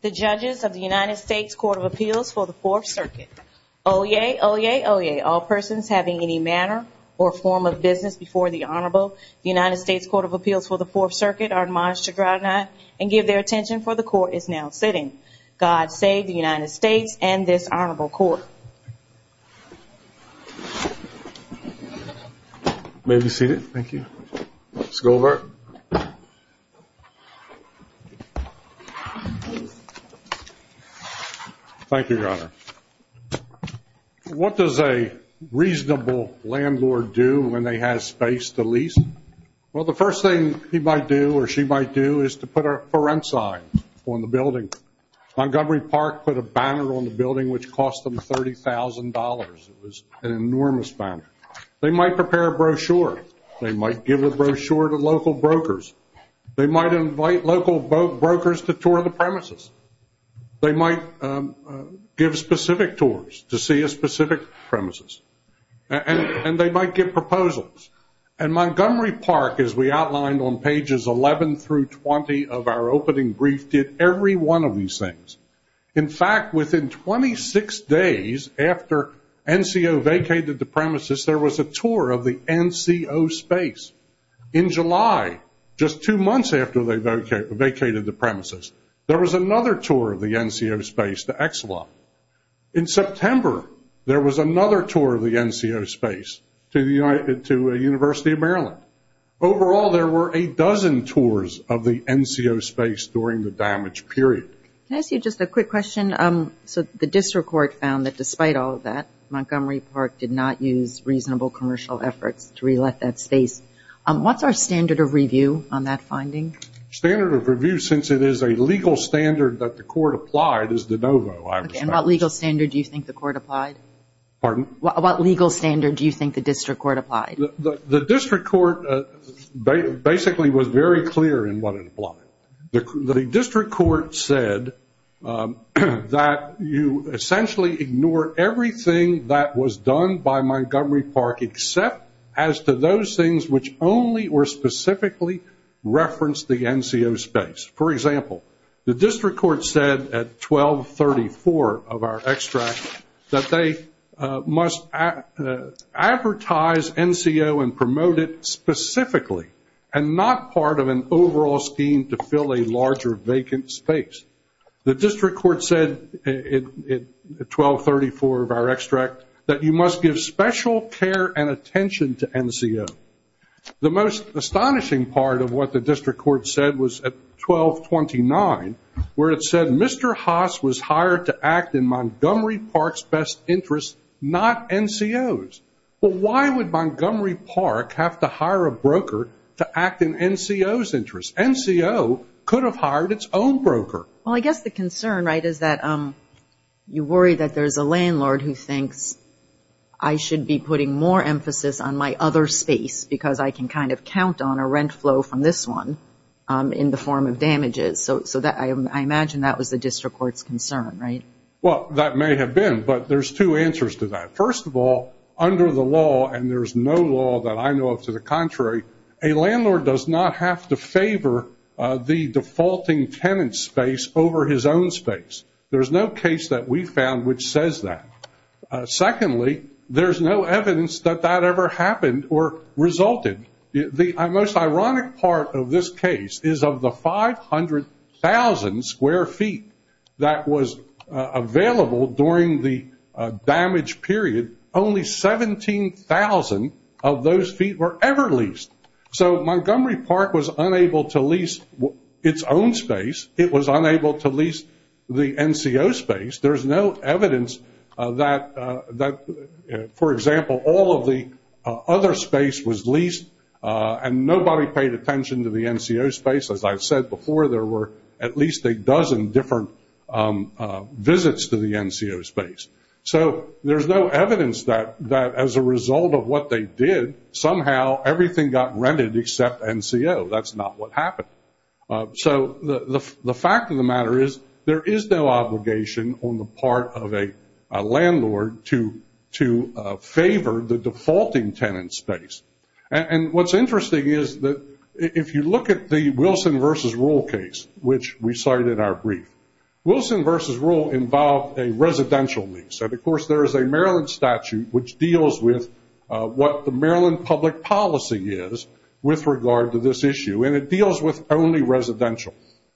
The Judges of the United States Court of Appeals for the Fourth Circuit. Oyez, oyez, oyez, all persons having any manner or form of business before the Honorable United States Court of Appeals for the Fourth Circuit are admonished to draw to night and give their attention for the Court is now sitting. God save the United States and this Honorable Court. May we be seated? Thank you. Mr. Goldberg. Thank you, Your Honor. What does a reasonable landlord do when they have space to lease? Well, the first thing he might do or she might do is to put a forensic on the building. Montgomery Park put a banner on the building which cost them $30,000. It was an enormous banner. They might prepare a brochure. They might give a brochure to local brokers. They might invite local brokers to tour the premises. They might give specific tours to see a specific premises. And they might give proposals. And Montgomery Park, as we outlined on pages 11 through 20 of our opening brief, did every one of these things. In fact, within 26 days after NCO vacated the premises, there was a tour of the NCO space. In July, just two months after they vacated the premises, there was another tour of the NCO space to Exelon. In September, there was another tour of the NCO space to University of Maryland. Overall, there were a dozen tours of the NCO space during the damaged period. Can I ask you just a quick question? So the district court found that despite all of that, Montgomery Park did not use reasonable commercial efforts to re-let that space. What's our standard of review on that finding? Standard of review, since it is a legal standard that the court applied, is de novo. And what legal standard do you think the court applied? Pardon? What legal standard do you think the district court applied? The district court basically was very clear in what it applied. The district court said that you essentially ignore everything that was done by Montgomery Park, except as to those things which only or specifically referenced the NCO space. For example, the district court said at 1234 of our extract that they must advertise NCO and promote it specifically and not part of an overall scheme to fill a larger vacant space. The district court said at 1234 of our extract that you must give special care and attention to NCO. The most astonishing part of what the district court said was at 1229, where it said Mr. Haas was hired to act in Montgomery Park's best interest, not NCO's. Well, why would Montgomery Park have to hire a broker to act in NCO's interest? NCO could have hired its own broker. Well, I guess the concern, right, is that you worry that there's a landlord who thinks I should be putting more emphasis on my other space because I can kind of count on a rent flow from this one in the form of damages. So I imagine that was the district court's concern, right? Well, that may have been, but there's two answers to that. First of all, under the law, and there's no law that I know of to the contrary, a landlord does not have to favor the defaulting tenant's space over his own space. There's no case that we found which says that. Secondly, there's no evidence that that ever happened or resulted. The most ironic part of this case is of the 500,000 square feet that was available during the damage period. Only 17,000 of those feet were ever leased. So Montgomery Park was unable to lease its own space. It was unable to lease the NCO space. There's no evidence that, for example, all of the other space was leased, and nobody paid attention to the NCO space. As I've said before, there were at least a dozen different visits to the NCO space. So there's no evidence that as a result of what they did, somehow everything got rented except NCO. That's not what happened. So the fact of the matter is there is no obligation on the part of a landlord to favor the defaulting tenant's space. And what's interesting is that if you look at the Wilson versus Rule case, which we cite in our brief, Wilson versus Rule involved a residential lease. And, of course, there is a Maryland statute which deals with what the Maryland public policy is with regard to this issue. And it deals with only residential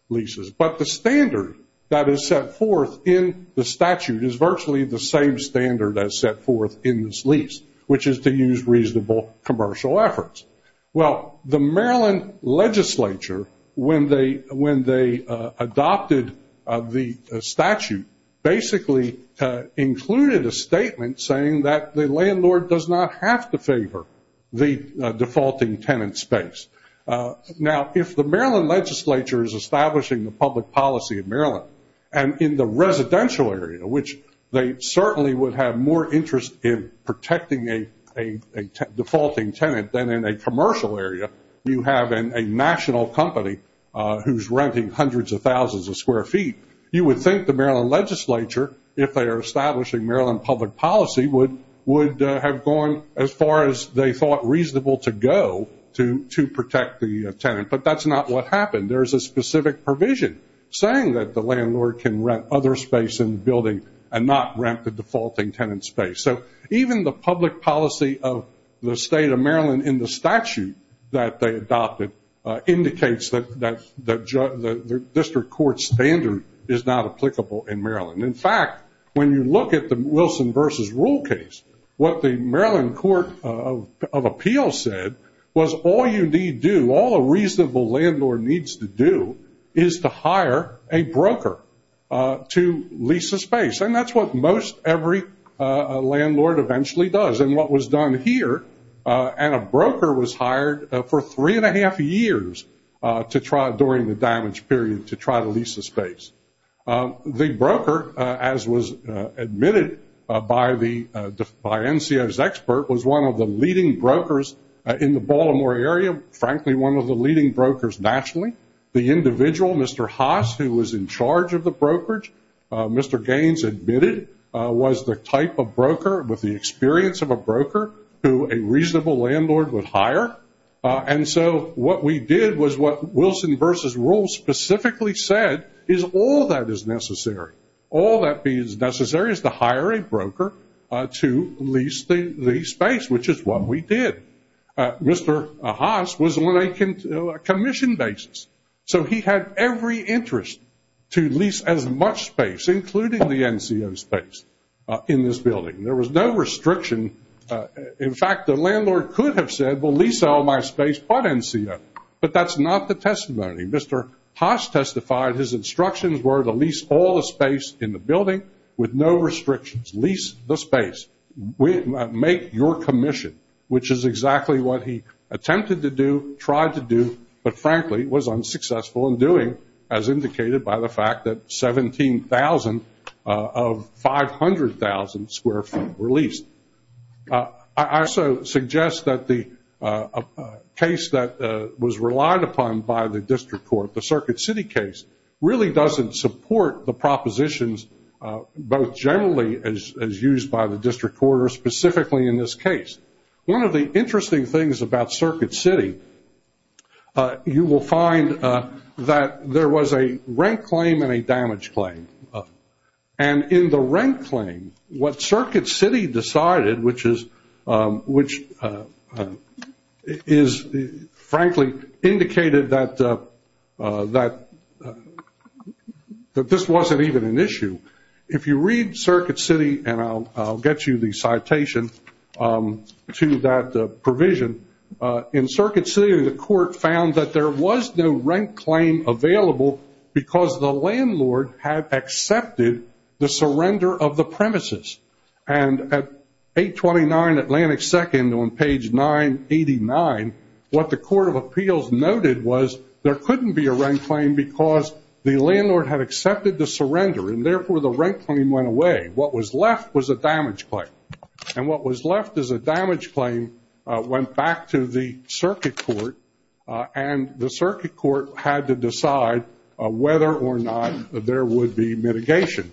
leases. But the standard that is set forth in the statute is virtually the same standard as set forth in this lease, which is to use reasonable commercial efforts. Well, the Maryland legislature, when they adopted the statute, basically included a statement saying that the landlord does not have to favor the defaulting tenant's space. Now, if the Maryland legislature is establishing the public policy of Maryland, and in the residential area, which they certainly would have more interest in protecting a defaulting tenant than in a commercial area, you have a national company who's renting hundreds of thousands of square feet, you would think the Maryland legislature, if they are establishing Maryland public policy, would have gone as far as they thought reasonable to go to protect the tenant. But that's not what happened. There's a specific provision saying that the landlord can rent other space in the building and not rent the defaulting tenant's space. So even the public policy of the state of Maryland in the statute that they adopted indicates that the district court standard is not applicable in Maryland. In fact, when you look at the Wilson versus Rule case, what the Maryland Court of Appeals said was all you need do, all a reasonable landlord needs to do, is to hire a broker to lease the space. And that's what most every landlord eventually does. And what was done here, and a broker was hired for three and a half years to try, during the damage period, to try to lease the space. The broker, as was admitted by NCO's expert, was one of the leading brokers in the Baltimore area, frankly one of the leading brokers nationally. The individual, Mr. Haas, who was in charge of the brokerage, Mr. Gaines admitted, was the type of broker with the experience of a broker who a reasonable landlord would hire. And so what we did was what Wilson versus Rule specifically said is all that is necessary. All that is necessary is to hire a broker to lease the space, which is what we did. Mr. Haas was on a commission basis, so he had every interest to lease as much space, including the NCO space, in this building. There was no restriction. In fact, the landlord could have said, well, lease all my space but NCO, but that's not the testimony. Mr. Haas testified his instructions were to lease all the space in the building with no restrictions. Lease the space. Make your commission, which is exactly what he attempted to do, tried to do, but frankly was unsuccessful in doing, as indicated by the fact that 17,000 of 500,000 square feet were leased. I also suggest that the case that was relied upon by the district court, the Circuit City case, really doesn't support the propositions both generally as used by the district court or specifically in this case. One of the interesting things about Circuit City, you will find that there was a rent claim and a damage claim. In the rent claim, what Circuit City decided, which is frankly indicated that this wasn't even an issue, if you read Circuit City, and I'll get you the citation to that provision, in Circuit City the court found that there was no rent claim available because the landlord had accepted the surrender of the premises. And at 829 Atlantic 2nd on page 989, what the Court of Appeals noted was there couldn't be a rent claim because the landlord had accepted the surrender and therefore the rent claim went away. What was left was a damage claim. And what was left as a damage claim went back to the Circuit Court, and the Circuit Court had to decide whether or not there would be mitigation.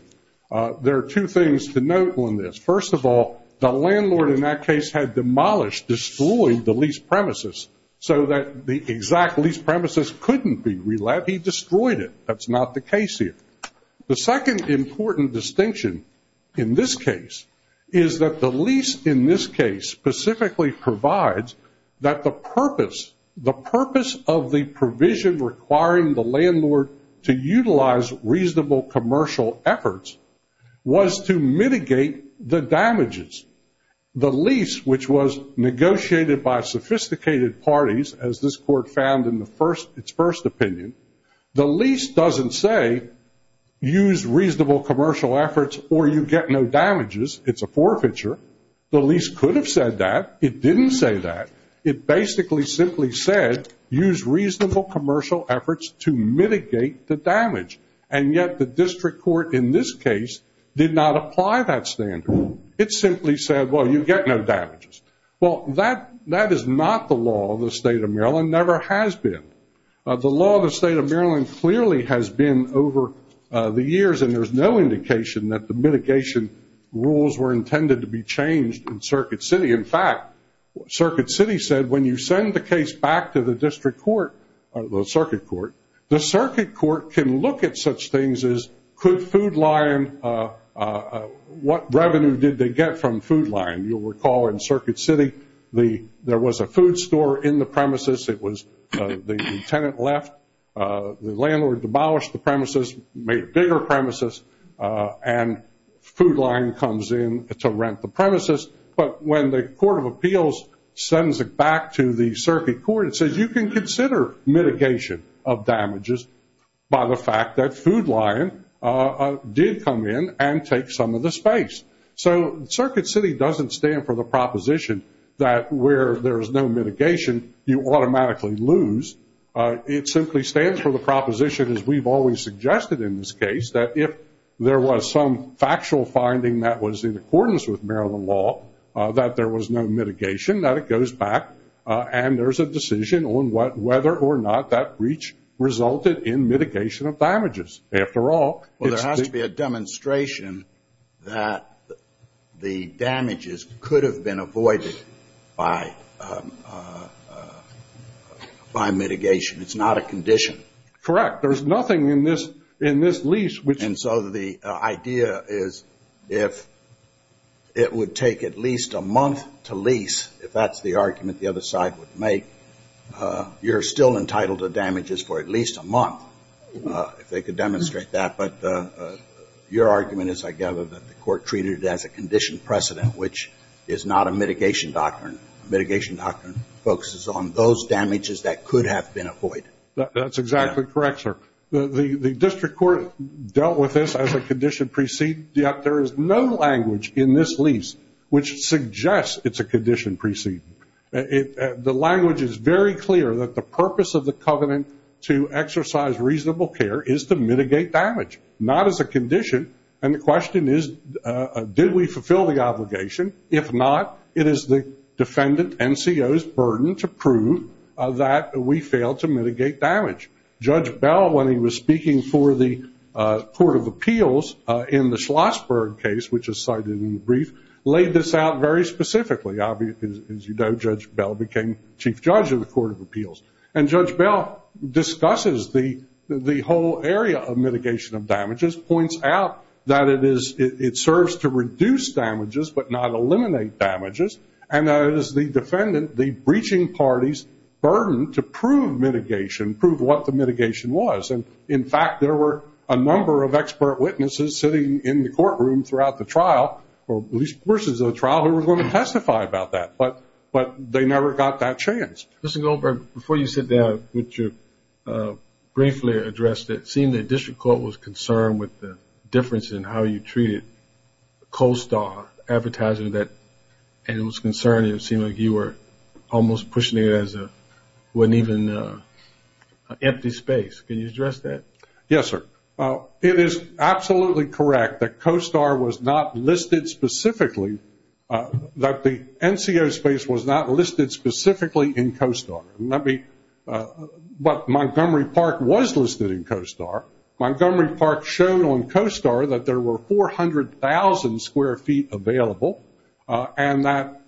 There are two things to note on this. First of all, the landlord in that case had demolished, destroyed the leased premises so that the exact leased premises couldn't be re-let. He destroyed it. That's not the case here. The second important distinction in this case is that the lease in this case specifically provides that the purpose of the provision requiring the landlord to utilize reasonable commercial efforts was to mitigate the damages. The lease, which was negotiated by sophisticated parties, as this court found in its first opinion, the lease doesn't say use reasonable commercial efforts or you get no damages. It's a forfeiture. The lease could have said that. It didn't say that. It basically simply said use reasonable commercial efforts to mitigate the damage. And yet the district court in this case did not apply that standard. It simply said, well, you get no damages. Well, that is not the law of the State of Maryland, never has been. The law of the State of Maryland clearly has been over the years, and there's no indication that the mitigation rules were intended to be changed in Circuit City. In fact, Circuit City said when you send the case back to the district court, the circuit court, the circuit court can look at such things as could Food Lion, what revenue did they get from Food Lion? You'll recall in Circuit City there was a food store in the premises. It was the tenant left. The landlord demolished the premises, made bigger premises, and Food Lion comes in to rent the premises. But when the court of appeals sends it back to the circuit court, it says you can consider mitigation of damages by the fact that Food Lion did come in and take some of the space. So Circuit City doesn't stand for the proposition that where there's no mitigation, you automatically lose. It simply stands for the proposition, as we've always suggested in this case, that if there was some factual finding that was in accordance with Maryland law, that there was no mitigation, that it goes back, and there's a decision on whether or not that breach resulted in mitigation of damages. Well, there has to be a demonstration that the damages could have been avoided by mitigation. It's not a condition. Correct. There's nothing in this lease. And so the idea is if it would take at least a month to lease, if that's the argument the other side would make, you're still entitled to damages for at least a month. If they could demonstrate that. But your argument is, I gather, that the court treated it as a condition precedent, which is not a mitigation doctrine. Mitigation doctrine focuses on those damages that could have been avoided. That's exactly correct, sir. The district court dealt with this as a condition precede, yet there is no language in this lease which suggests it's a condition precede. The language is very clear that the purpose of the covenant to exercise reasonable care is to mitigate damage, not as a condition. And the question is, did we fulfill the obligation? If not, it is the defendant NCO's burden to prove that we failed to mitigate damage. Judge Bell, when he was speaking for the Court of Appeals in the Schlossberg case, which is cited in the brief, laid this out very specifically. As you know, Judge Bell became Chief Judge of the Court of Appeals. And Judge Bell discusses the whole area of mitigation of damages, points out that it serves to reduce damages but not eliminate damages, and that it is the defendant, the breaching party's, burden to prove mitigation, prove what the mitigation was. And, in fact, there were a number of expert witnesses sitting in the courtroom throughout the trial, or at least portions of the trial, who were going to testify about that. But they never got that chance. Mr. Goldberg, before you sit down, would you briefly address, it seemed that district court was concerned with the difference in how you treated CoStar advertising, and it was concerning. It seemed like you were almost pushing it as it wasn't even an empty space. Can you address that? Yes, sir. It is absolutely correct that CoStar was not listed specifically, that the NCO space was not listed specifically in CoStar. But Montgomery Park was listed in CoStar. Montgomery Park showed on CoStar that there were 400,000 square feet available, and that,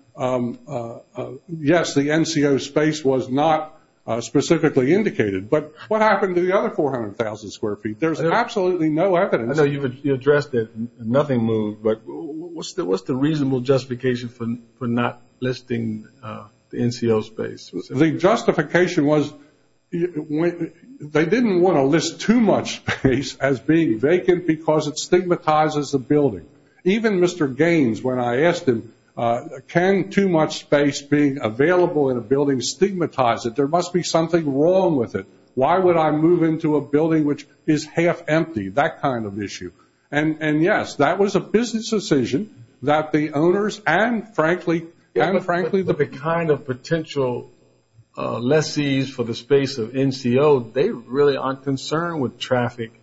yes, the NCO space was not specifically indicated. But what happened to the other 400,000 square feet? There's absolutely no evidence. I know you addressed it and nothing moved, but what's the reasonable justification for not listing the NCO space? The justification was they didn't want to list too much space as being vacant because it stigmatizes the building. Even Mr. Gaines, when I asked him, can too much space being available in a building stigmatize it? There must be something wrong with it. Why would I move into a building which is half empty? That kind of issue. And, yes, that was a business decision that the owners and, frankly, the kind of potential lessees for the space of NCO, they really aren't concerned with traffic,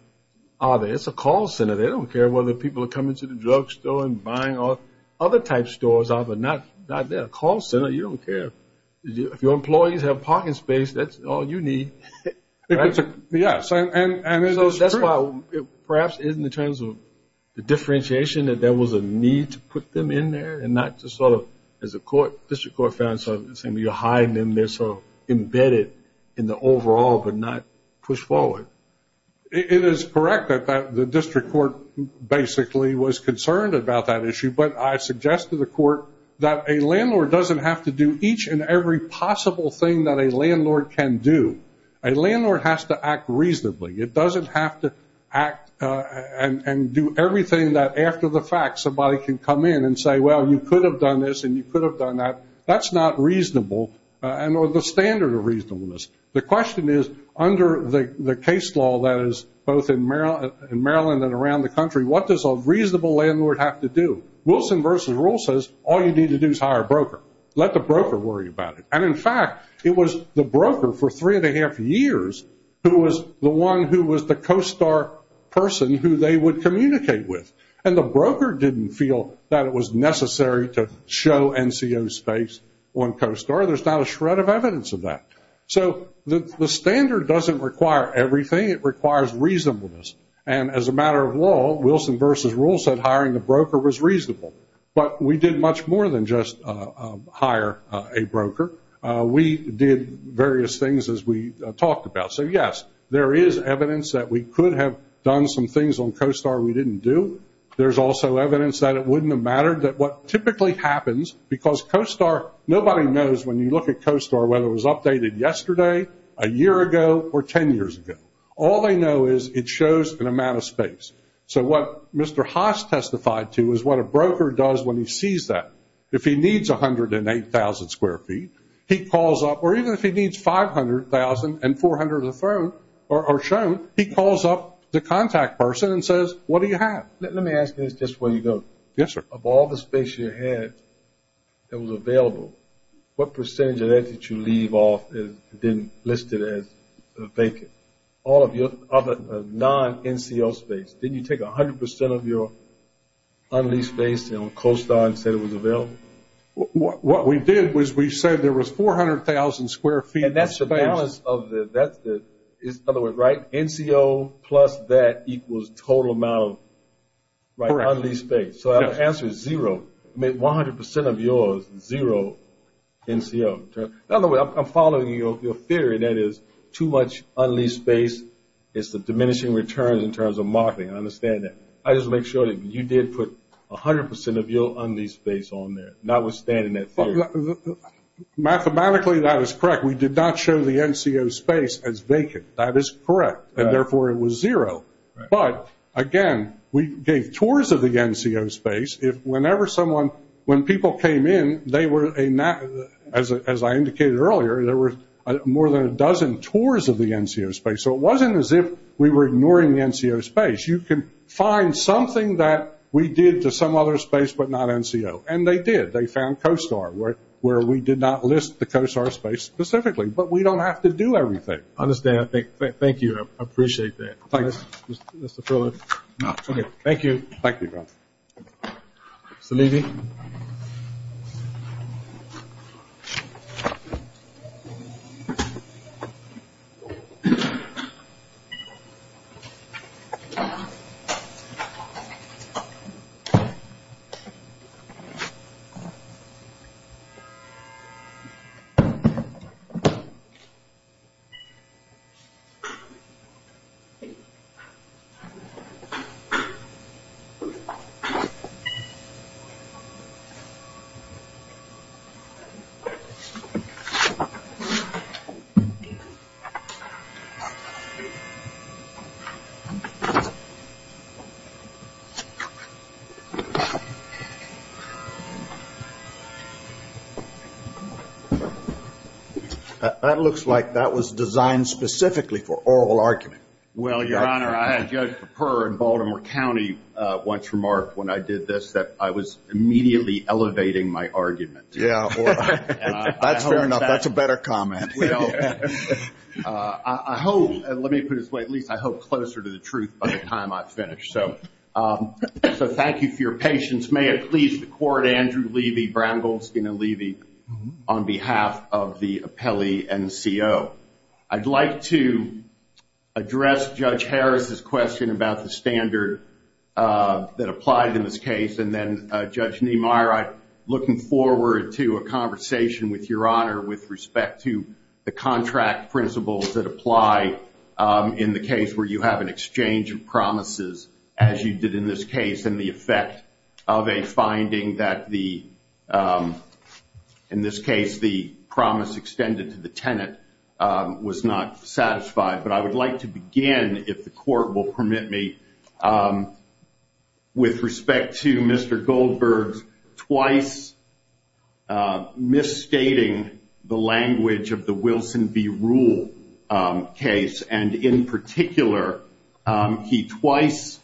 are they? It's a call center. They don't care whether people are coming to the drugstore and buying. Other type stores are, but not there. A call center, you don't care. If your employees have parking space, that's all you need. Yes, and that's why perhaps in the terms of the differentiation that there was a need to put them in there and not just sort of, as the district court found, you're hiding them there so embedded in the overall but not pushed forward. It is correct that the district court basically was concerned about that issue, but I suggest to the court that a landlord doesn't have to do each and every possible thing that a landlord can do. A landlord has to act reasonably. It doesn't have to act and do everything that, after the fact, somebody can come in and say, well, you could have done this and you could have done that. That's not reasonable or the standard of reasonableness. The question is, under the case law that is both in Maryland and around the country, what does a reasonable landlord have to do? Wilson v. Rule says, all you need to do is hire a broker. Let the broker worry about it. And, in fact, it was the broker for three and a half years who was the one who was the COSTAR person who they would communicate with. And the broker didn't feel that it was necessary to show NCO space on COSTAR. There's not a shred of evidence of that. So the standard doesn't require everything. It requires reasonableness. And, as a matter of law, Wilson v. Rule said hiring the broker was reasonable. But we did much more than just hire a broker. We did various things, as we talked about. So, yes, there is evidence that we could have done some things on COSTAR we didn't do. There's also evidence that it wouldn't have mattered, that what typically happens, because COSTAR, nobody knows, when you look at COSTAR, whether it was updated yesterday, a year ago, or ten years ago. All they know is it shows an amount of space. So what Mr. Haas testified to is what a broker does when he sees that. If he needs 108,000 square feet, he calls up, or even if he needs 500,000 and 400,000 thrown or shown, he calls up the contact person and says, what do you have? Let me ask you this just before you go. Yes, sir. Of all the space you had that was available, what percentage of that did you leave off and then list it as vacant? All of your non-NCO space. Didn't you take 100% of your un-leased space on COSTAR and said it was available? What we did was we said there was 400,000 square feet of space. And that's the balance of the other way, right? NCO plus that equals total amount of un-leased space. So the answer is zero. I mean 100% of yours, zero NCO. In other words, I'm following your theory that is too much un-leased space is the diminishing return in terms of marketing. I understand that. I just want to make sure that you did put 100% of your un-leased space on there, notwithstanding that theory. Mathematically, that is correct. We did not show the NCO space as vacant. That is correct, and therefore it was zero. But, again, we gave tours of the NCO space. Whenever someone, when people came in, they were, as I indicated earlier, there were more than a dozen tours of the NCO space. So it wasn't as if we were ignoring the NCO space. You can find something that we did to some other space but not NCO. And they did. They found COSTAR, where we did not list the COSTAR space specifically. But we don't have to do everything. I understand. Thank you. I appreciate that. Thank you. Thank you. Salibi. Thank you. That looks like that was designed specifically for oral argument. Well, Your Honor, I had Judge Perper in Baltimore County once remarked when I did this that I was immediately elevating my argument. Yeah. That's fair enough. That's a better comment. I hope, let me put it this way, at least I hope closer to the truth by the time I finish. So thank you for your patience. May it please the Court, Andrew Levy, Brown, Goldstein, and Levy, on behalf of the appellee NCO. I'd like to address Judge Harris' question about the standard that applied in this case. And then, Judge Niemeyer, I'm looking forward to a conversation with Your Honor with respect to the contract principles that apply in the case where you have an exchange of promises, as you did in this case, and the effect of a finding that the, in this case, the promise extended to the tenant was not satisfied. But I would like to begin, if the Court will permit me, with respect to Mr. Goldberg's twice misstating the language of the Wilson v. Rule case. And in particular, he twice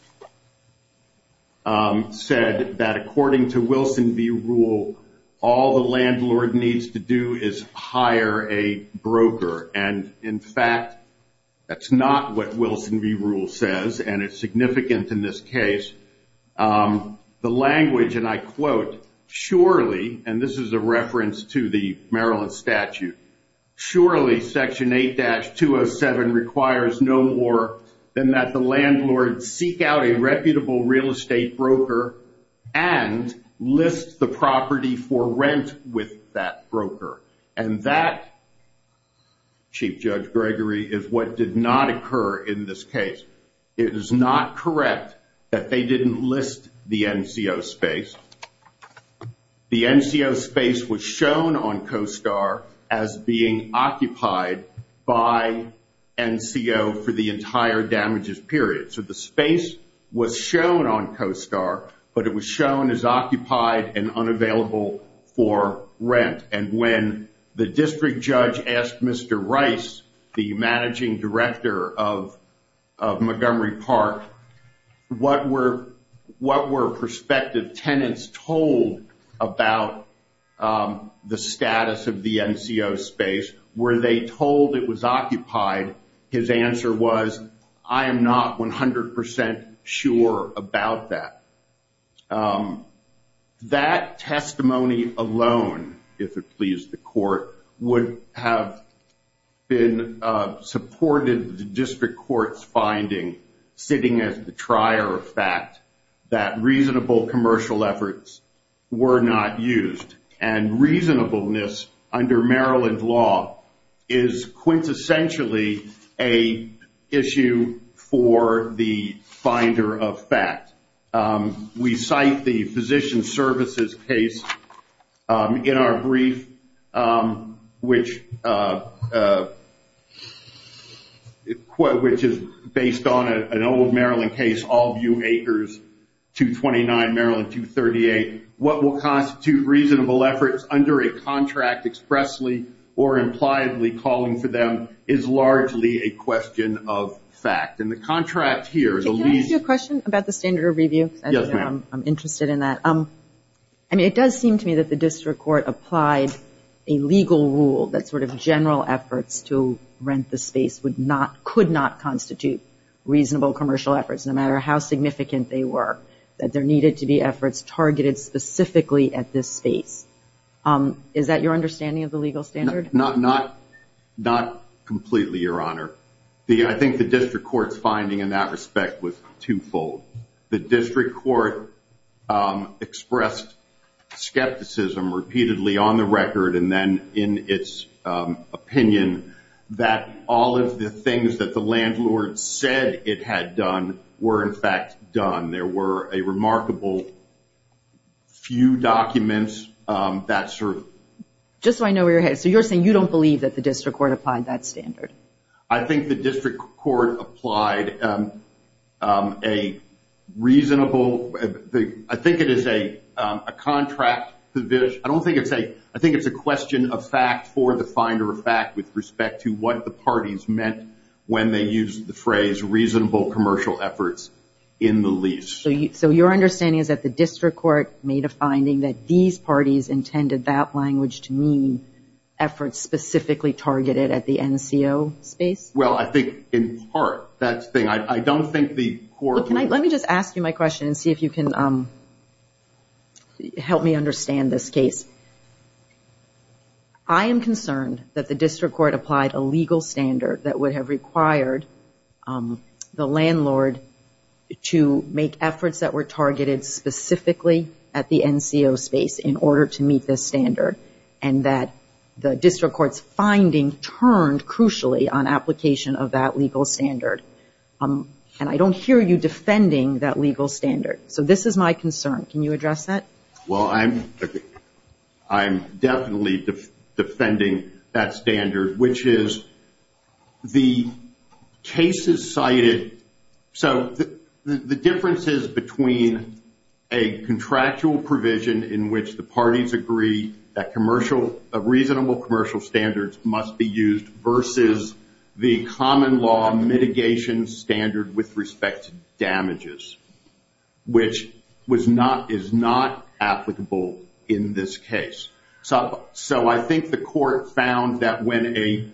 said that according to Wilson v. Rule, all the landlord needs to do is hire a broker. And, in fact, that's not what Wilson v. Rule says, and it's significant in this case. The language, and I quote, surely, and this is a reference to the Maryland statute, surely Section 8-207 requires no more than that the landlord seek out a reputable real estate broker and list the property for rent with that broker. And that, Chief Judge Gregory, is what did not occur in this case. It is not correct that they didn't list the NCO space. The NCO space was shown on CoSTAR as being occupied by NCO for the entire damages period. So the space was shown on CoSTAR, but it was shown as occupied and unavailable for rent. And when the district judge asked Mr. Rice, the managing director of Montgomery Park, what were prospective tenants told about the status of the NCO space? Were they told it was occupied? His answer was, I am not 100% sure about that. That testimony alone, if it please the court, would have been supported in the district court's finding sitting as the trier of fact that reasonable commercial efforts were not used. And reasonableness under Maryland law is quintessentially an issue for the finder of fact. We cite the physician services case in our brief, which is based on an old Maryland case, Allview Acres 229, Maryland 238. What will constitute reasonable efforts under a contract expressly or impliedly calling for them is largely a question of fact. And the contract here is a lease. Can I ask you a question about the standard of review? Yes, ma'am. I'm interested in that. I mean, it does seem to me that the district court applied a legal rule that sort of general efforts to rent the space could not constitute reasonable commercial efforts, no matter how significant they were, that there needed to be efforts targeted specifically at this space. Is that your understanding of the legal standard? Not completely, Your Honor. I think the district court's finding in that respect was twofold. The district court expressed skepticism repeatedly on the record and then in its opinion that all of the things that the landlord said it had done were in fact done. There were a remarkable few documents that sort of. Just so I know where you're headed. So you're saying you don't believe that the district court applied that standard? I think the district court applied a reasonable, I think it is a contract. I think it's a question of fact for the finder of fact with respect to what the parties meant when they used the phrase reasonable commercial efforts in the lease. So your understanding is that the district court made a finding that these parties intended that language to mean efforts specifically targeted at the NCO space? Well, I think in part. I don't think the court. Let me just ask you my question and see if you can help me understand this case. I am concerned that the district court applied a legal standard that would have required the landlord to make efforts that were targeted specifically at the NCO space in order to meet this standard and that the district court's finding turned crucially on application of that legal standard. And I don't hear you defending that legal standard. So this is my concern. Can you address that? Well, I'm definitely defending that standard, which is the cases cited. So the difference is between a contractual provision in which the parties agree that commercial, reasonable commercial standards must be used versus the common law mitigation standard with respect to damages, which is not applicable in this case. So I think the court found that when a,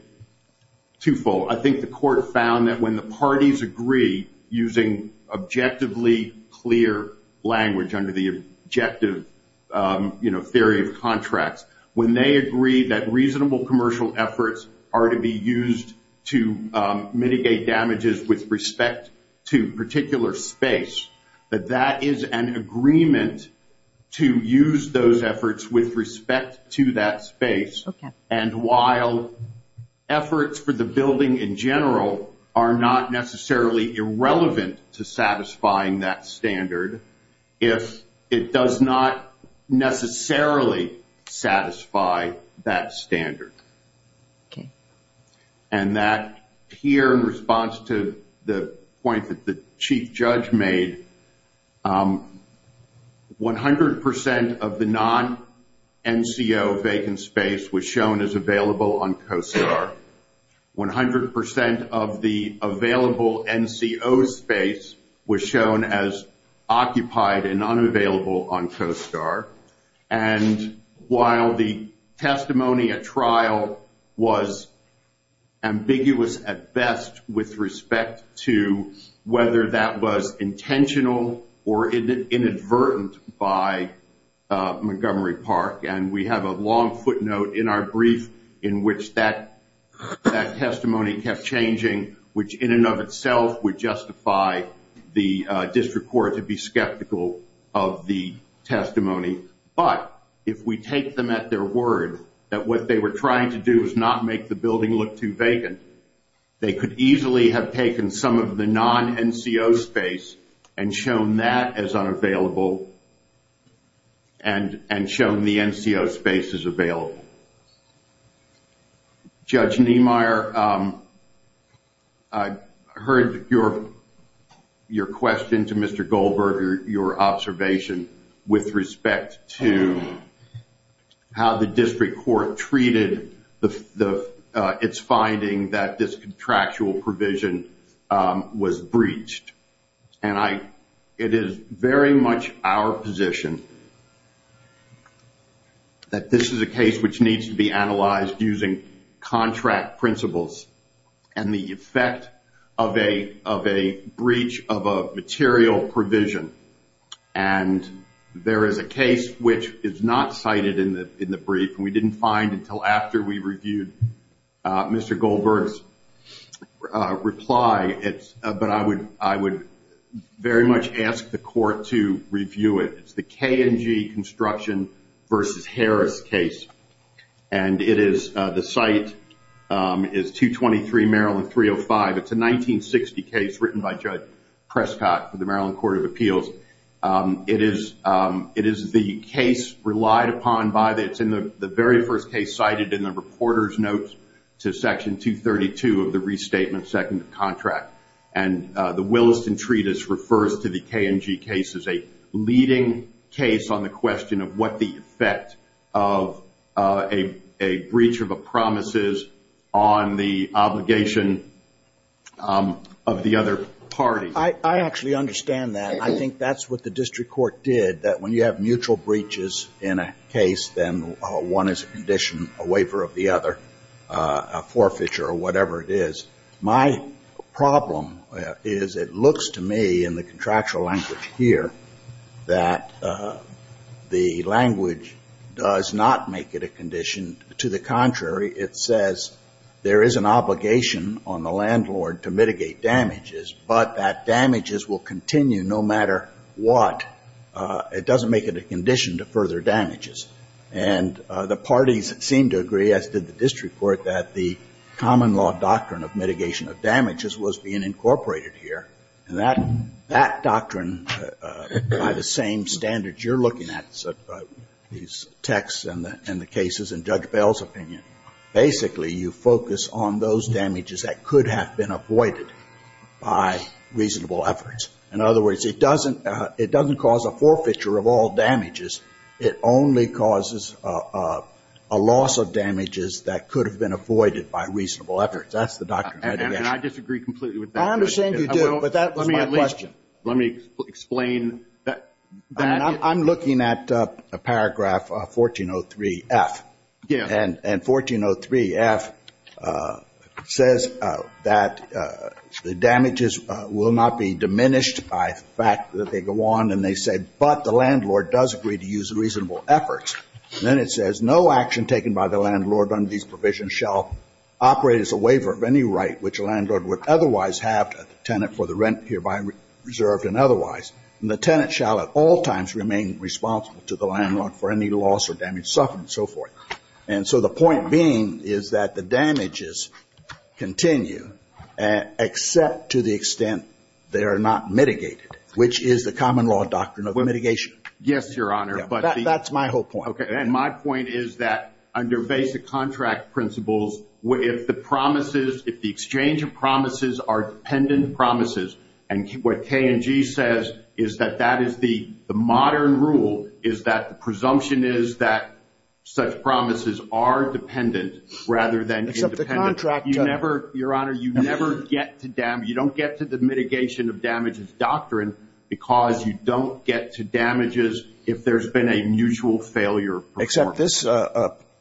twofold, I think the court found that when the parties agree using objectively clear language under the objective, you know, theory of contracts, when they agree that reasonable commercial efforts are to be used to mitigate damages with respect to particular space, that that is an agreement to use those efforts with respect to that space. And while efforts for the building in general are not necessarily irrelevant to satisfying that standard, if it does not necessarily satisfy that standard. And that here in response to the point that the chief judge made, 100 percent of the non-NCO vacant space was shown as available on COSTAR. 100 percent of the available NCO space was shown as occupied and unavailable on COSTAR. And while the testimony at trial was ambiguous at best with respect to whether that was intentional or inadvertent by Montgomery Park, and we have a long footnote in our brief in which that testimony kept changing, which in and of itself would justify the district court to be skeptical of the testimony. But if we take them at their word that what they were trying to do was not make the building look too vacant, they could easily have taken some of the non-NCO space and shown that as unavailable and shown the NCO space as available. Judge Niemeyer, I heard your question to Mr. Goldberg, your observation with respect to how the district court treated its finding that this contractual provision was breached. And it is very much our position that this is a case which needs to be analyzed using contract principles and the effect of a breach of a material provision. And there is a case which is not cited in the brief, and we didn't find until after we reviewed Mr. Goldberg's reply. But I would very much ask the court to review it. It's the K&G Construction v. Harris case, and the site is 223 Maryland 305. It's a 1960 case written by Judge Prescott for the Maryland Court of Appeals. It is the case relied upon by the very first case cited in the reporter's notes to Section 232 of the Restatement Second Contract. And the Williston Treatise refers to the K&G case as a leading case on the question of what the effect of a breach of a promise is on the obligation of the other party. I actually understand that. I think that's what the district court did, that when you have mutual breaches in a case, then one is a condition, a waiver of the other, a forfeiture or whatever it is. My problem is it looks to me in the contractual language here that the language does not make it a condition. To the contrary, it says there is an obligation on the landlord to mitigate damages, but that damages will continue no matter what. It doesn't make it a condition to further damages. And the parties seem to agree, as did the district court, that the common law doctrine of mitigation of damages was being incorporated here. And that doctrine, by the same standards you're looking at, these texts and the cases in Judge Bell's opinion, basically you focus on those damages that could have been avoided by reasonable efforts. In other words, it doesn't cause a forfeiture of all damages. It only causes a loss of damages that could have been avoided by reasonable efforts. That's the doctrine. And I disagree completely with that. I understand you do, but that was my question. Let me explain that. I'm looking at a paragraph, 1403F. Yeah. And 1403F says that the damages will not be diminished by the fact that they go on, and they say, but the landlord does agree to use reasonable efforts. And then it says, no action taken by the landlord under these provisions shall operate as a waiver of any right which a landlord would otherwise have a tenant for the rent hereby reserved and otherwise. And the tenant shall at all times remain responsible to the landlord for any loss or damage suffered and so forth. And so the point being is that the damages continue, except to the extent they are not mitigated, which is the common law doctrine of mitigation. Yes, Your Honor. That's my whole point. Okay. And my point is that under basic contract principles, if the promises, if the exchange of promises are dependent promises, and what K&G says is that that is the modern rule, is that the presumption is that such promises are dependent rather than independent. Except the contract. You never, Your Honor, you never get to damage, you don't get to the mitigation of damages doctrine because you don't get to damages if there's been a mutual failure. Except this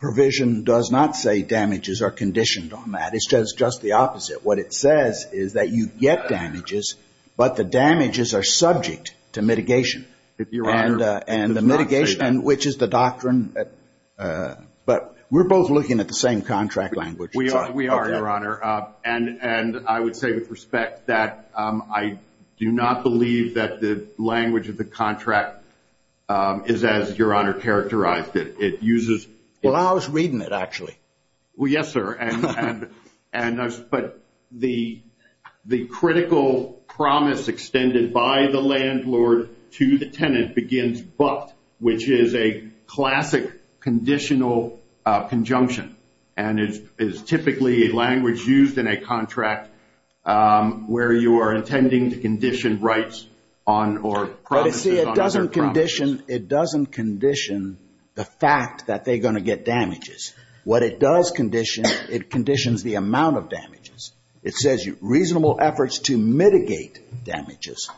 provision does not say damages are conditioned on that. It's just the opposite. What it says is that you get damages, but the damages are subject to mitigation. And the mitigation, which is the doctrine, but we're both looking at the same contract language. We are, Your Honor. And I would say with respect that I do not believe that the language of the contract is as Your Honor characterized it. It uses. Well, I was reading it, actually. Well, yes, sir. But the critical promise extended by the landlord to the tenant begins but, which is a classic conditional conjunction. And it is typically a language used in a contract where you are intending to condition rights on or promises on other promises. But, see, it doesn't condition, it doesn't condition the fact that they're going to get damages. What it does condition, it conditions the amount of damages. It says reasonable efforts to mitigate damages.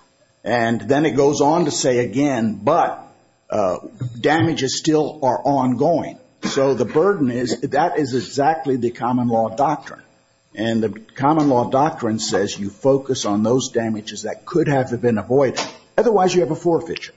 And then it goes on to say again, but damages still are ongoing. So the burden is that is exactly the common law doctrine. And the common law doctrine says you focus on those damages that could have been avoided. Otherwise you have a forfeiture.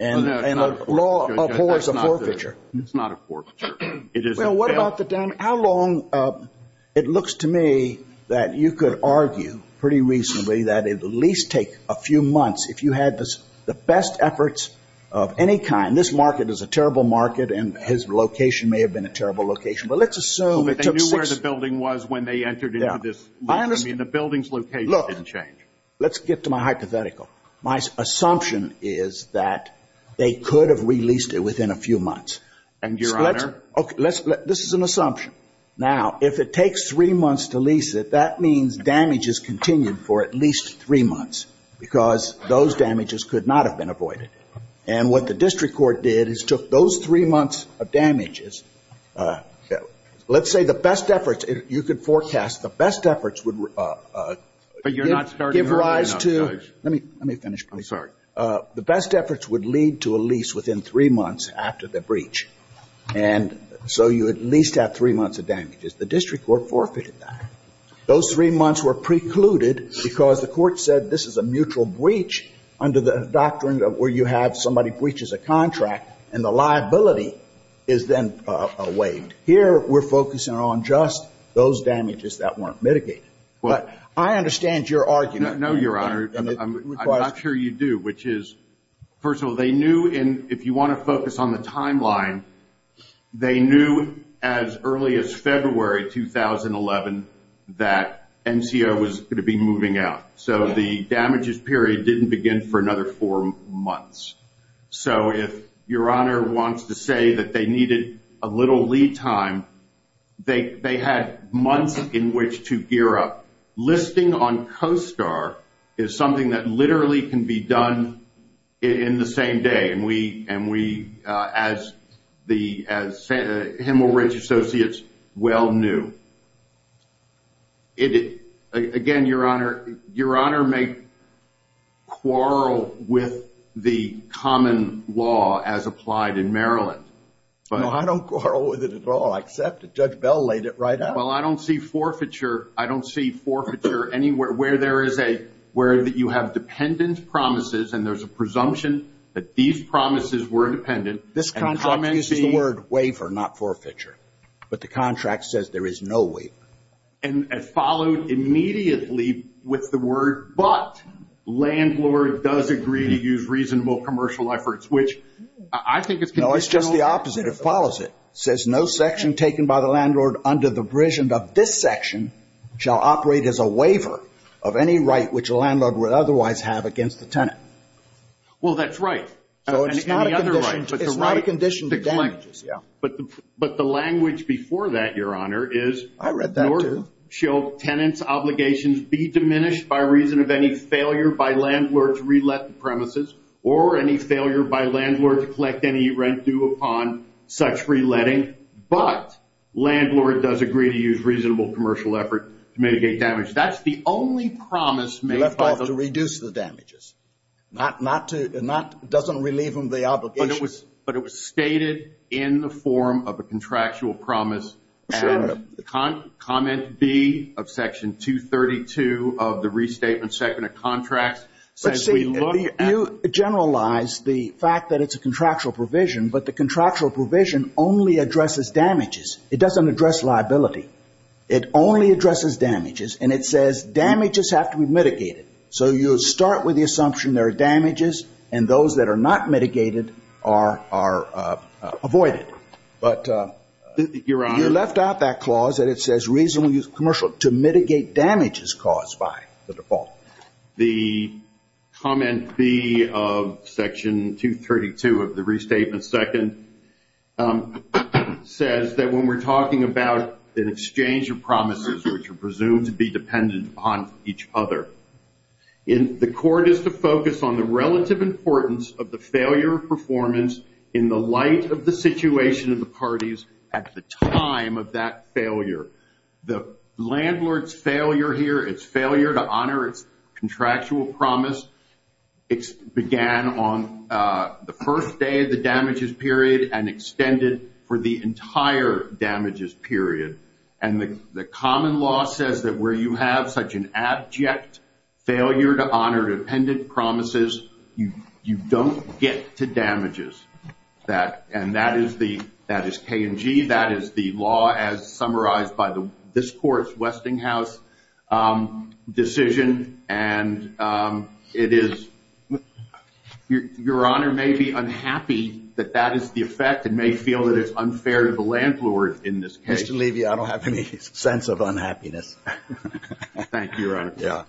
And the law abhors a forfeiture. It's not a forfeiture. Well, what about the damage? How long, it looks to me that you could argue pretty reasonably that it would at least take a few months if you had the best efforts of any kind. And this market is a terrible market and his location may have been a terrible location. But let's assume it took six. So they knew where the building was when they entered into this. I understand. I mean, the building's location didn't change. Look, let's get to my hypothetical. My assumption is that they could have released it within a few months. And, Your Honor. This is an assumption. Now, if it takes three months to lease it, that means damage is continued for at least three months because those damages could not have been avoided. And what the district court did is took those three months of damages. Let's say the best efforts, you could forecast the best efforts would give rise to. But you're not starting early enough, Judge. Let me finish, please. I'm sorry. The best efforts would lead to a lease within three months after the breach. And so you at least have three months of damages. The district court forfeited that. Those three months were precluded because the court said this is a mutual breach under the doctrine where you have somebody breaches a contract and the liability is then waived. Here we're focusing on just those damages that weren't mitigated. But I understand your argument. No, Your Honor. I'm not sure you do, which is, first of all, they knew if you want to focus on the timeline, they knew as early as February 2011 that NCO was going to be moving out. So the damages period didn't begin for another four months. So if Your Honor wants to say that they needed a little lead time, they had months in which to gear up. Listing on COSTAR is something that literally can be done in the same day. And we, as Hemel Ridge Associates, well knew. Again, Your Honor, Your Honor may quarrel with the common law as applied in Maryland. No, I don't quarrel with it at all, except that Judge Bell laid it right out. Well, I don't see forfeiture, I don't see forfeiture anywhere where there is a, where you have dependent promises and there's a presumption that these promises were independent. This contract uses the word waiver, not forfeiture. But the contract says there is no waiver. And it followed immediately with the word, but landlord does agree to use reasonable commercial efforts, which I think is conditional. No, it's just the opposite. It follows it, says no section taken by the landlord under the prision of this section shall operate as a waiver of any right which a landlord would otherwise have against the tenant. Well, that's right. So it's not a condition to damages. But the language before that, Your Honor, is in order shall tenants' obligations be diminished by reason of any failure by landlord to re-let the premises or any failure by landlord to collect any rent due upon such re-letting. But landlord does agree to use reasonable commercial effort to mitigate damage. That's the only promise made by the- Left off to reduce the damages. Not to, not, doesn't relieve them of the obligation. But it was stated in the form of a contractual promise. Sure. And comment B of section 232 of the Restatement Second of Contracts. You generalize the fact that it's a contractual provision, but the contractual provision only addresses damages. It doesn't address liability. It only addresses damages. And it says damages have to be mitigated. So you start with the assumption there are damages, and those that are not mitigated are avoided. But, Your Honor- You left out that clause that it says reasonable commercial to mitigate damages caused by the default. The comment B of section 232 of the Restatement Second says that when we're talking about an exchange of promises, which are presumed to be dependent upon each other, the court is to focus on the relative importance of the failure of performance in the light of the situation of the parties at the time of that failure. The landlord's failure here, its failure to honor its contractual promise began on the first day of the damages period and extended for the entire damages period. And the common law says that where you have such an abject failure to honor dependent promises, you don't get to damages. And that is K and G. That is the law as summarized by this Court's Westinghouse decision. And it is- Your Honor may be unhappy that that is the effect and may feel that it's unfair to the landlord in this case. Mr. Levy, I don't have any sense of unhappiness. Thank you, Your Honor. Yeah.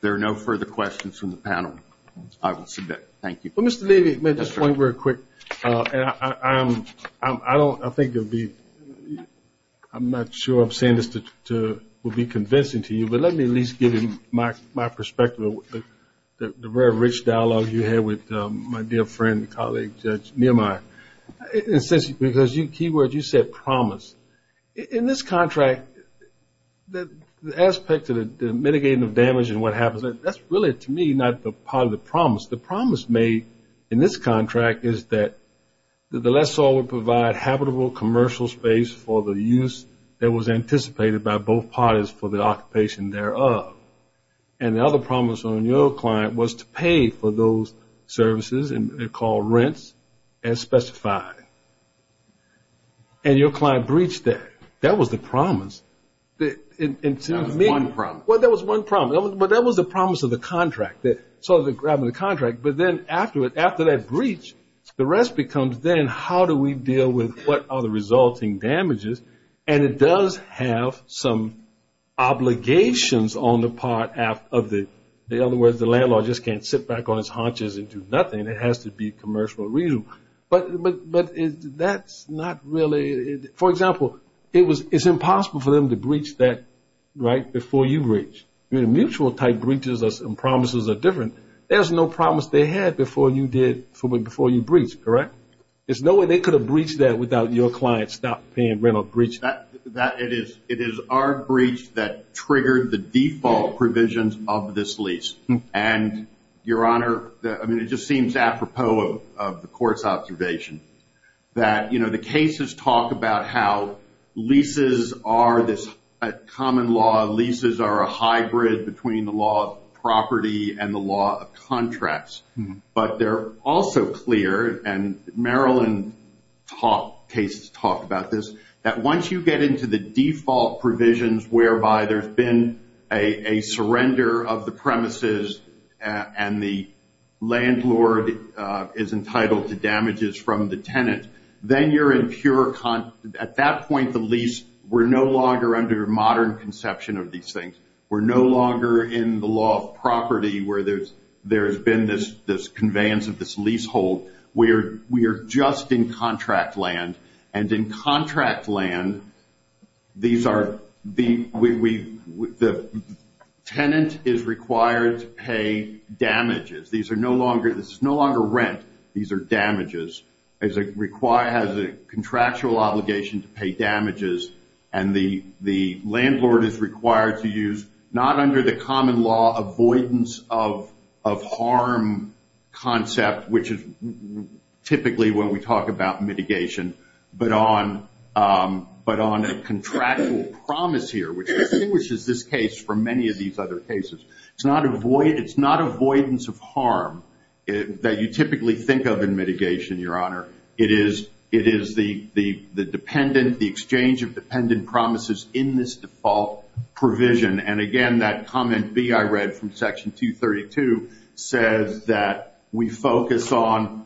There are no further questions from the panel. I will submit. Thank you. Well, Mr. Levy, may I just point real quick? I don't- I think it would be- I'm not sure I'm saying this to- would be convincing to you, but let me at least give you my perspective of the very rich dialogue you had with my dear friend and colleague, Judge Nehemiah. And since- because you- keywords you said promise. In this contract, the aspect of the mitigating of damage and what happens, that's really, to me, not part of the promise. The promise made in this contract is that the lessor would provide habitable commercial space for the use that was anticipated by both parties for the occupation thereof. And the other promise on your client was to pay for those services, and they're called rents, as specified. And your client breached that. That was the promise. That was one promise. Well, that was one promise. But that was the promise of the contract, sort of grabbing the contract. But then after that breach, the rest becomes then how do we deal with what are the resulting damages? And it does have some obligations on the part of the- in other words, the landlord just can't sit back on his haunches and do nothing. It has to be a commercial reason. But that's not really- for example, it's impossible for them to breach that right before you breach. Mutual type breaches and promises are different. There's no promise they had before you did- before you breached, correct? There's no way they could have breached that without your client stopped paying rent or breached that. It is our breach that triggered the default provisions of this lease. And, Your Honor, I mean, it just seems apropos of the court's observation that, you know, the cases talk about how leases are this common law. Leases are a hybrid between the law of property and the law of contracts. But they're also clear, and Maryland cases talk about this, that once you get into the default provisions whereby there's been a surrender of the premises and the landlord is entitled to damages from the tenant, then you're in pure- at that point, the lease, we're no longer under modern conception of these things. We're no longer in the law of property where there's been this conveyance of this leasehold. We are just in contract land. And in contract land, these are- the tenant is required to pay damages. These are no longer- this is no longer rent. These are damages. It has a contractual obligation to pay damages. And the landlord is required to use, not under the common law avoidance of harm concept, which is typically when we talk about mitigation, but on a contractual promise here, which distinguishes this case from many of these other cases. It's not avoidance of harm that you typically think of in mitigation, Your Honor. It is the dependent, the exchange of dependent promises in this default provision. And, again, that comment B I read from Section 232 says that we focus on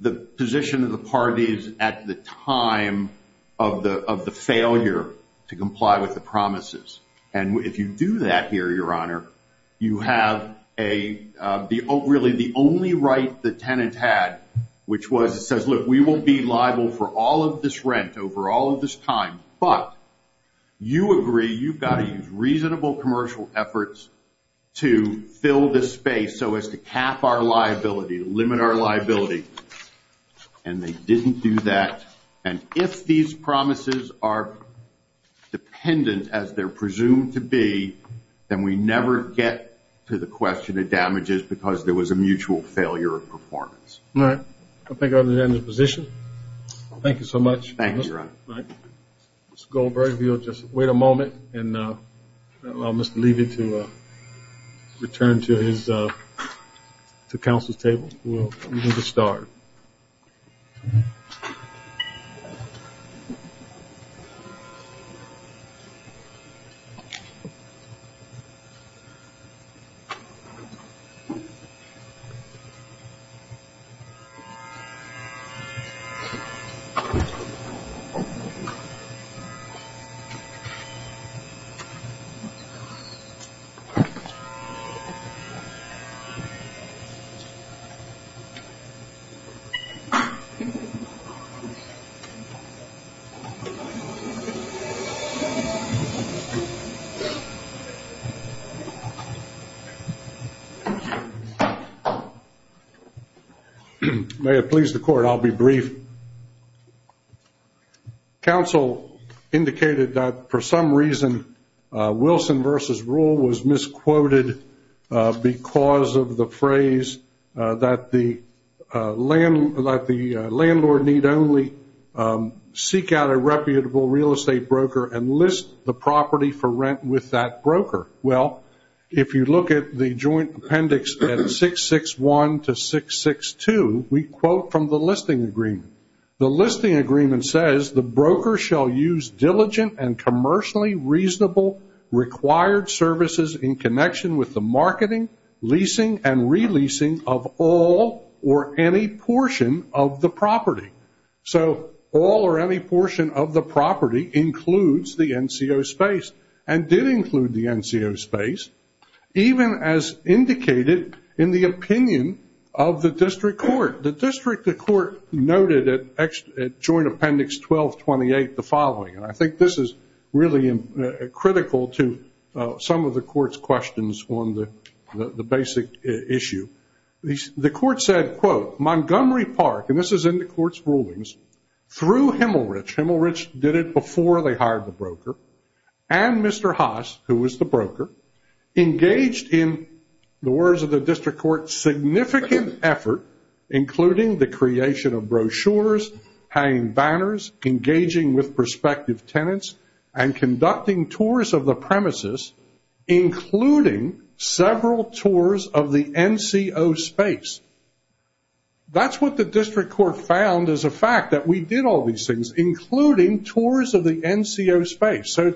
the position of the parties at the time of the failure to comply with the promises. And if you do that here, Your Honor, you have a- really the only right the tenant had, which was it says, look, we will be liable for all of this rent over all of this time, but you agree you've got to use reasonable commercial efforts to fill this space so as to cap our liability, limit our liability, and they didn't do that. And if these promises are dependent as they're presumed to be, then we never get to the question of damages because there was a mutual failure of performance. All right. I think I'm going to end the position. Thank you so much. Thank you, Your Honor. All right. Mr. Goldberg, if you'll just wait a moment and allow Mr. Levy to return to his- to counsel's table. We'll begin to start. Thank you. May it please the Court, I'll be brief. Counsel indicated that for some reason, Wilson v. Rule was misquoted because of the phrase that the landlord need only seek out a reputable real estate broker and list the property for rent with that broker. Well, if you look at the joint appendix at 661 to 662, we quote from the listing agreement. The listing agreement says, the broker shall use diligent and commercially reasonable required services in connection with the marketing, leasing, and releasing of all or any portion of the property. So all or any portion of the property includes the NCO space and did include the NCO space, even as indicated in the opinion of the district court. The district court noted at joint appendix 1228 the following, and I think this is really critical to some of the court's questions on the basic issue. The court said, quote, Montgomery Park, and this is in the court's rulings, through Himmelrich, Himmelrich did it before they hired the broker, and Mr. Haas, who was the broker, engaged in, the words of the district court, significant effort, including the creation of brochures, hanging banners, engaging with prospective tenants, and conducting tours of the premises, including several tours of the NCO space. That's what the district court found as a fact, that we did all these things, including tours of the NCO space. So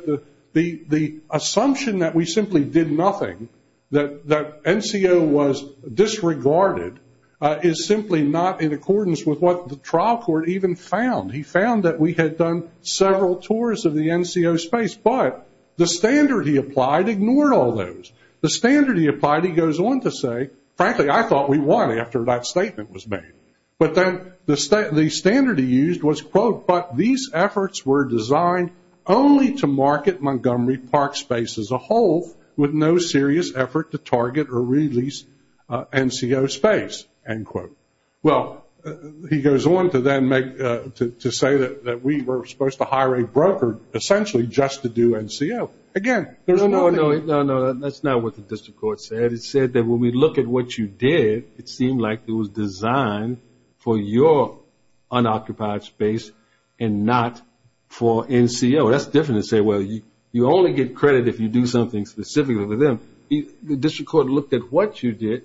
the assumption that we simply did nothing, that NCO was disregarded, is simply not in accordance with what the trial court even found. He found that we had done several tours of the NCO space, but the standard he applied ignored all those. The standard he applied, he goes on to say, frankly, I thought we won after that statement was made. But then the standard he used was, quote, but these efforts were designed only to market Montgomery Park space as a whole, with no serious effort to target or release NCO space, end quote. Well, he goes on to say that we were supposed to hire a broker, essentially just to do NCO. Again, there's one thing. No, no, no, that's not what the district court said. It said that when we look at what you did, it seemed like it was designed for your unoccupied space and not for NCO. That's different to say, well, you only get credit if you do something specifically with them. The district court looked at what you did.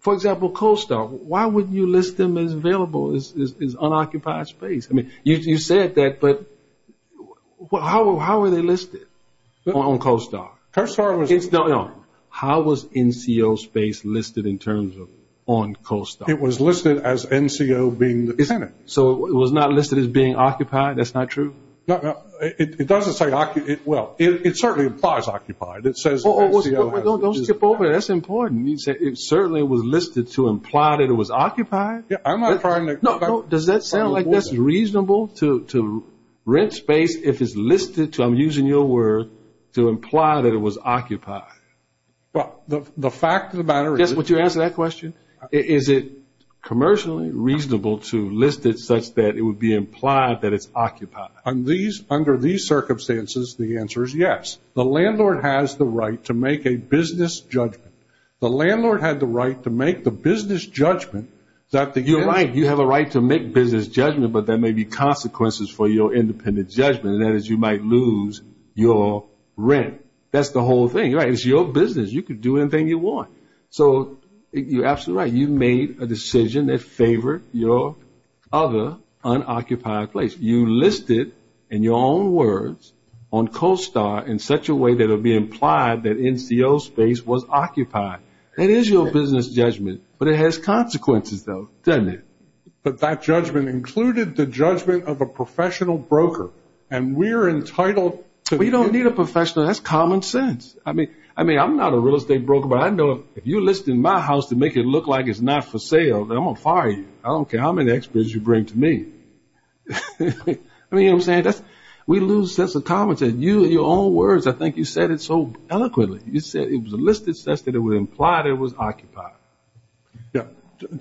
For example, Coastal, why wouldn't you list them as available, as unoccupied space? I mean, you said that, but how were they listed on Coastal? How was NCO space listed in terms of on Coastal? It was listed as NCO being the tenant. So it was not listed as being occupied? That's not true? No, it doesn't say occupied. Well, it certainly implies occupied. It says NCO. Don't skip over it. That's important. You said it certainly was listed to imply that it was occupied? Yeah, I'm not trying to. Does that sound like that's reasonable to rent space if it's listed to, I'm using your word, to imply that it was occupied? Well, the fact of the matter is. Would you answer that question? Is it commercially reasonable to list it such that it would be implied that it's occupied? Under these circumstances, the answer is yes. The landlord has the right to make a business judgment. The landlord had the right to make the business judgment that the tenant. You're right. You have a right to make business judgment, but there may be consequences for your independent judgment, and that is you might lose your rent. That's the whole thing, right? It's your business. You can do anything you want. So you're absolutely right. You made a decision that favored your other unoccupied place. You listed, in your own words, on Coastal in such a way that it would be implied that NCO space was occupied. That is your business judgment. But it has consequences, though, doesn't it? But that judgment included the judgment of a professional broker, and we're entitled to be. We don't need a professional. That's common sense. I mean, I'm not a real estate broker, but I know if you list in my house to make it look like it's not for sale, then I'm going to fire you. I don't care how many experts you bring to me. I mean, you know what I'm saying? We lose sense of common sense. You, in your own words, I think you said it so eloquently. You said it was a listed sense that it would imply that it was occupied. Yeah.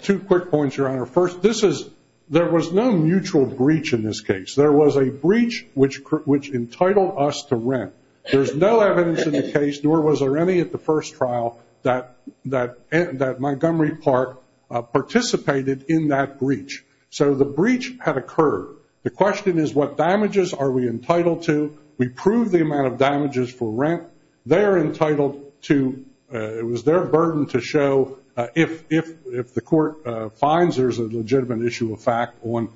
Two quick points, Your Honor. First, there was no mutual breach in this case. There was a breach which entitled us to rent. There's no evidence in the case, nor was there any at the first trial, that Montgomery Park participated in that breach. So the breach had occurred. The question is what damages are we entitled to? We proved the amount of damages for rent. They're entitled to – it was their burden to show if the court finds there's a legitimate issue of fact on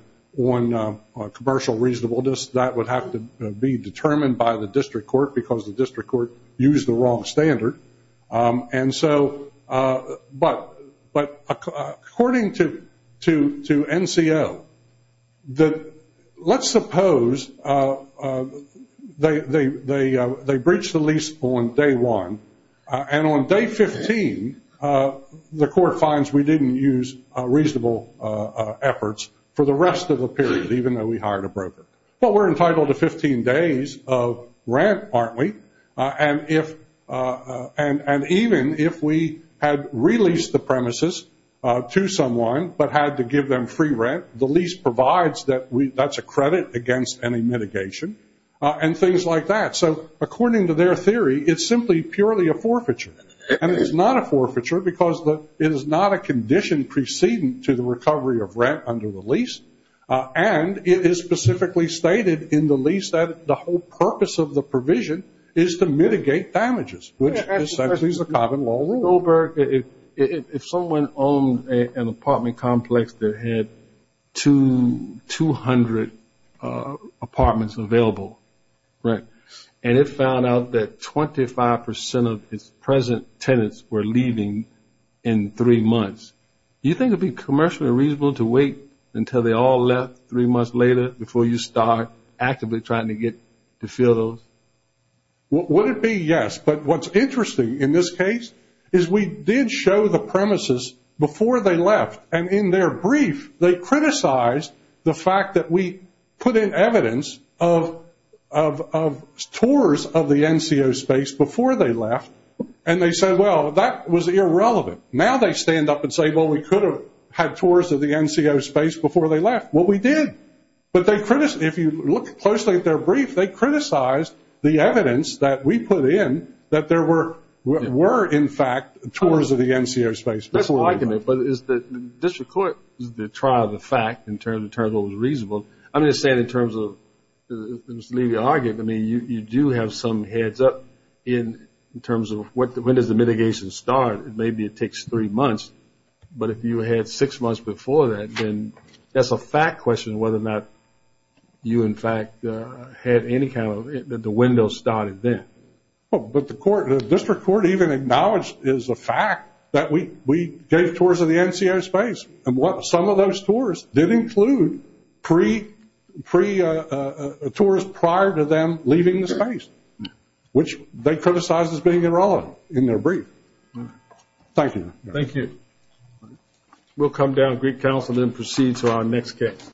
commercial reasonableness, that would have to be determined by the district court because the district court used the wrong standard. And so – but according to NCO, let's suppose they breached the lease on day one, and on day 15 the court finds we didn't use reasonable efforts for the rest of the period, even though we hired a broker. But we're entitled to 15 days of rent, aren't we? And even if we had released the premises to someone but had to give them free rent, the lease provides that that's a credit against any mitigation and things like that. So according to their theory, it's simply purely a forfeiture. And it's not a forfeiture because it is not a condition preceding to the recovery of rent under the lease, and it is specifically stated in the lease that the whole purpose of the provision is to mitigate damages, which essentially is a common law rule. Goldberg, if someone owned an apartment complex that had 200 apartments available, and it found out that 25 percent of its present tenants were leaving in three months, do you think it would be commercially reasonable to wait until they all left three months later before you start actively trying to get to fill those? Would it be? Yes. But what's interesting in this case is we did show the premises before they left, and in their brief they criticized the fact that we put in evidence of tours of the NCO space before they left, and they said, well, that was irrelevant. Now they stand up and say, well, we could have had tours of the NCO space before they left. Well, we did. But if you look closely at their brief, they criticized the evidence that we put in that there were, in fact, tours of the NCO space before they left. But is the district court, is the trial of the fact in terms of what was reasonable? I'm just saying in terms of Mr. Levy argued, I mean, you do have some heads up in terms of when does the mitigation start. Maybe it takes three months. But if you had six months before that, then that's a fact question whether or not you, in fact, had any kind of the window started then. But the court, the district court even acknowledged is the fact that we gave tours of the NCO space. And some of those tours did include pre-tours prior to them leaving the space, which they criticized as being irrelevant in their brief. Thank you. Thank you. We'll come down to Greek Council and then proceed to our next guest.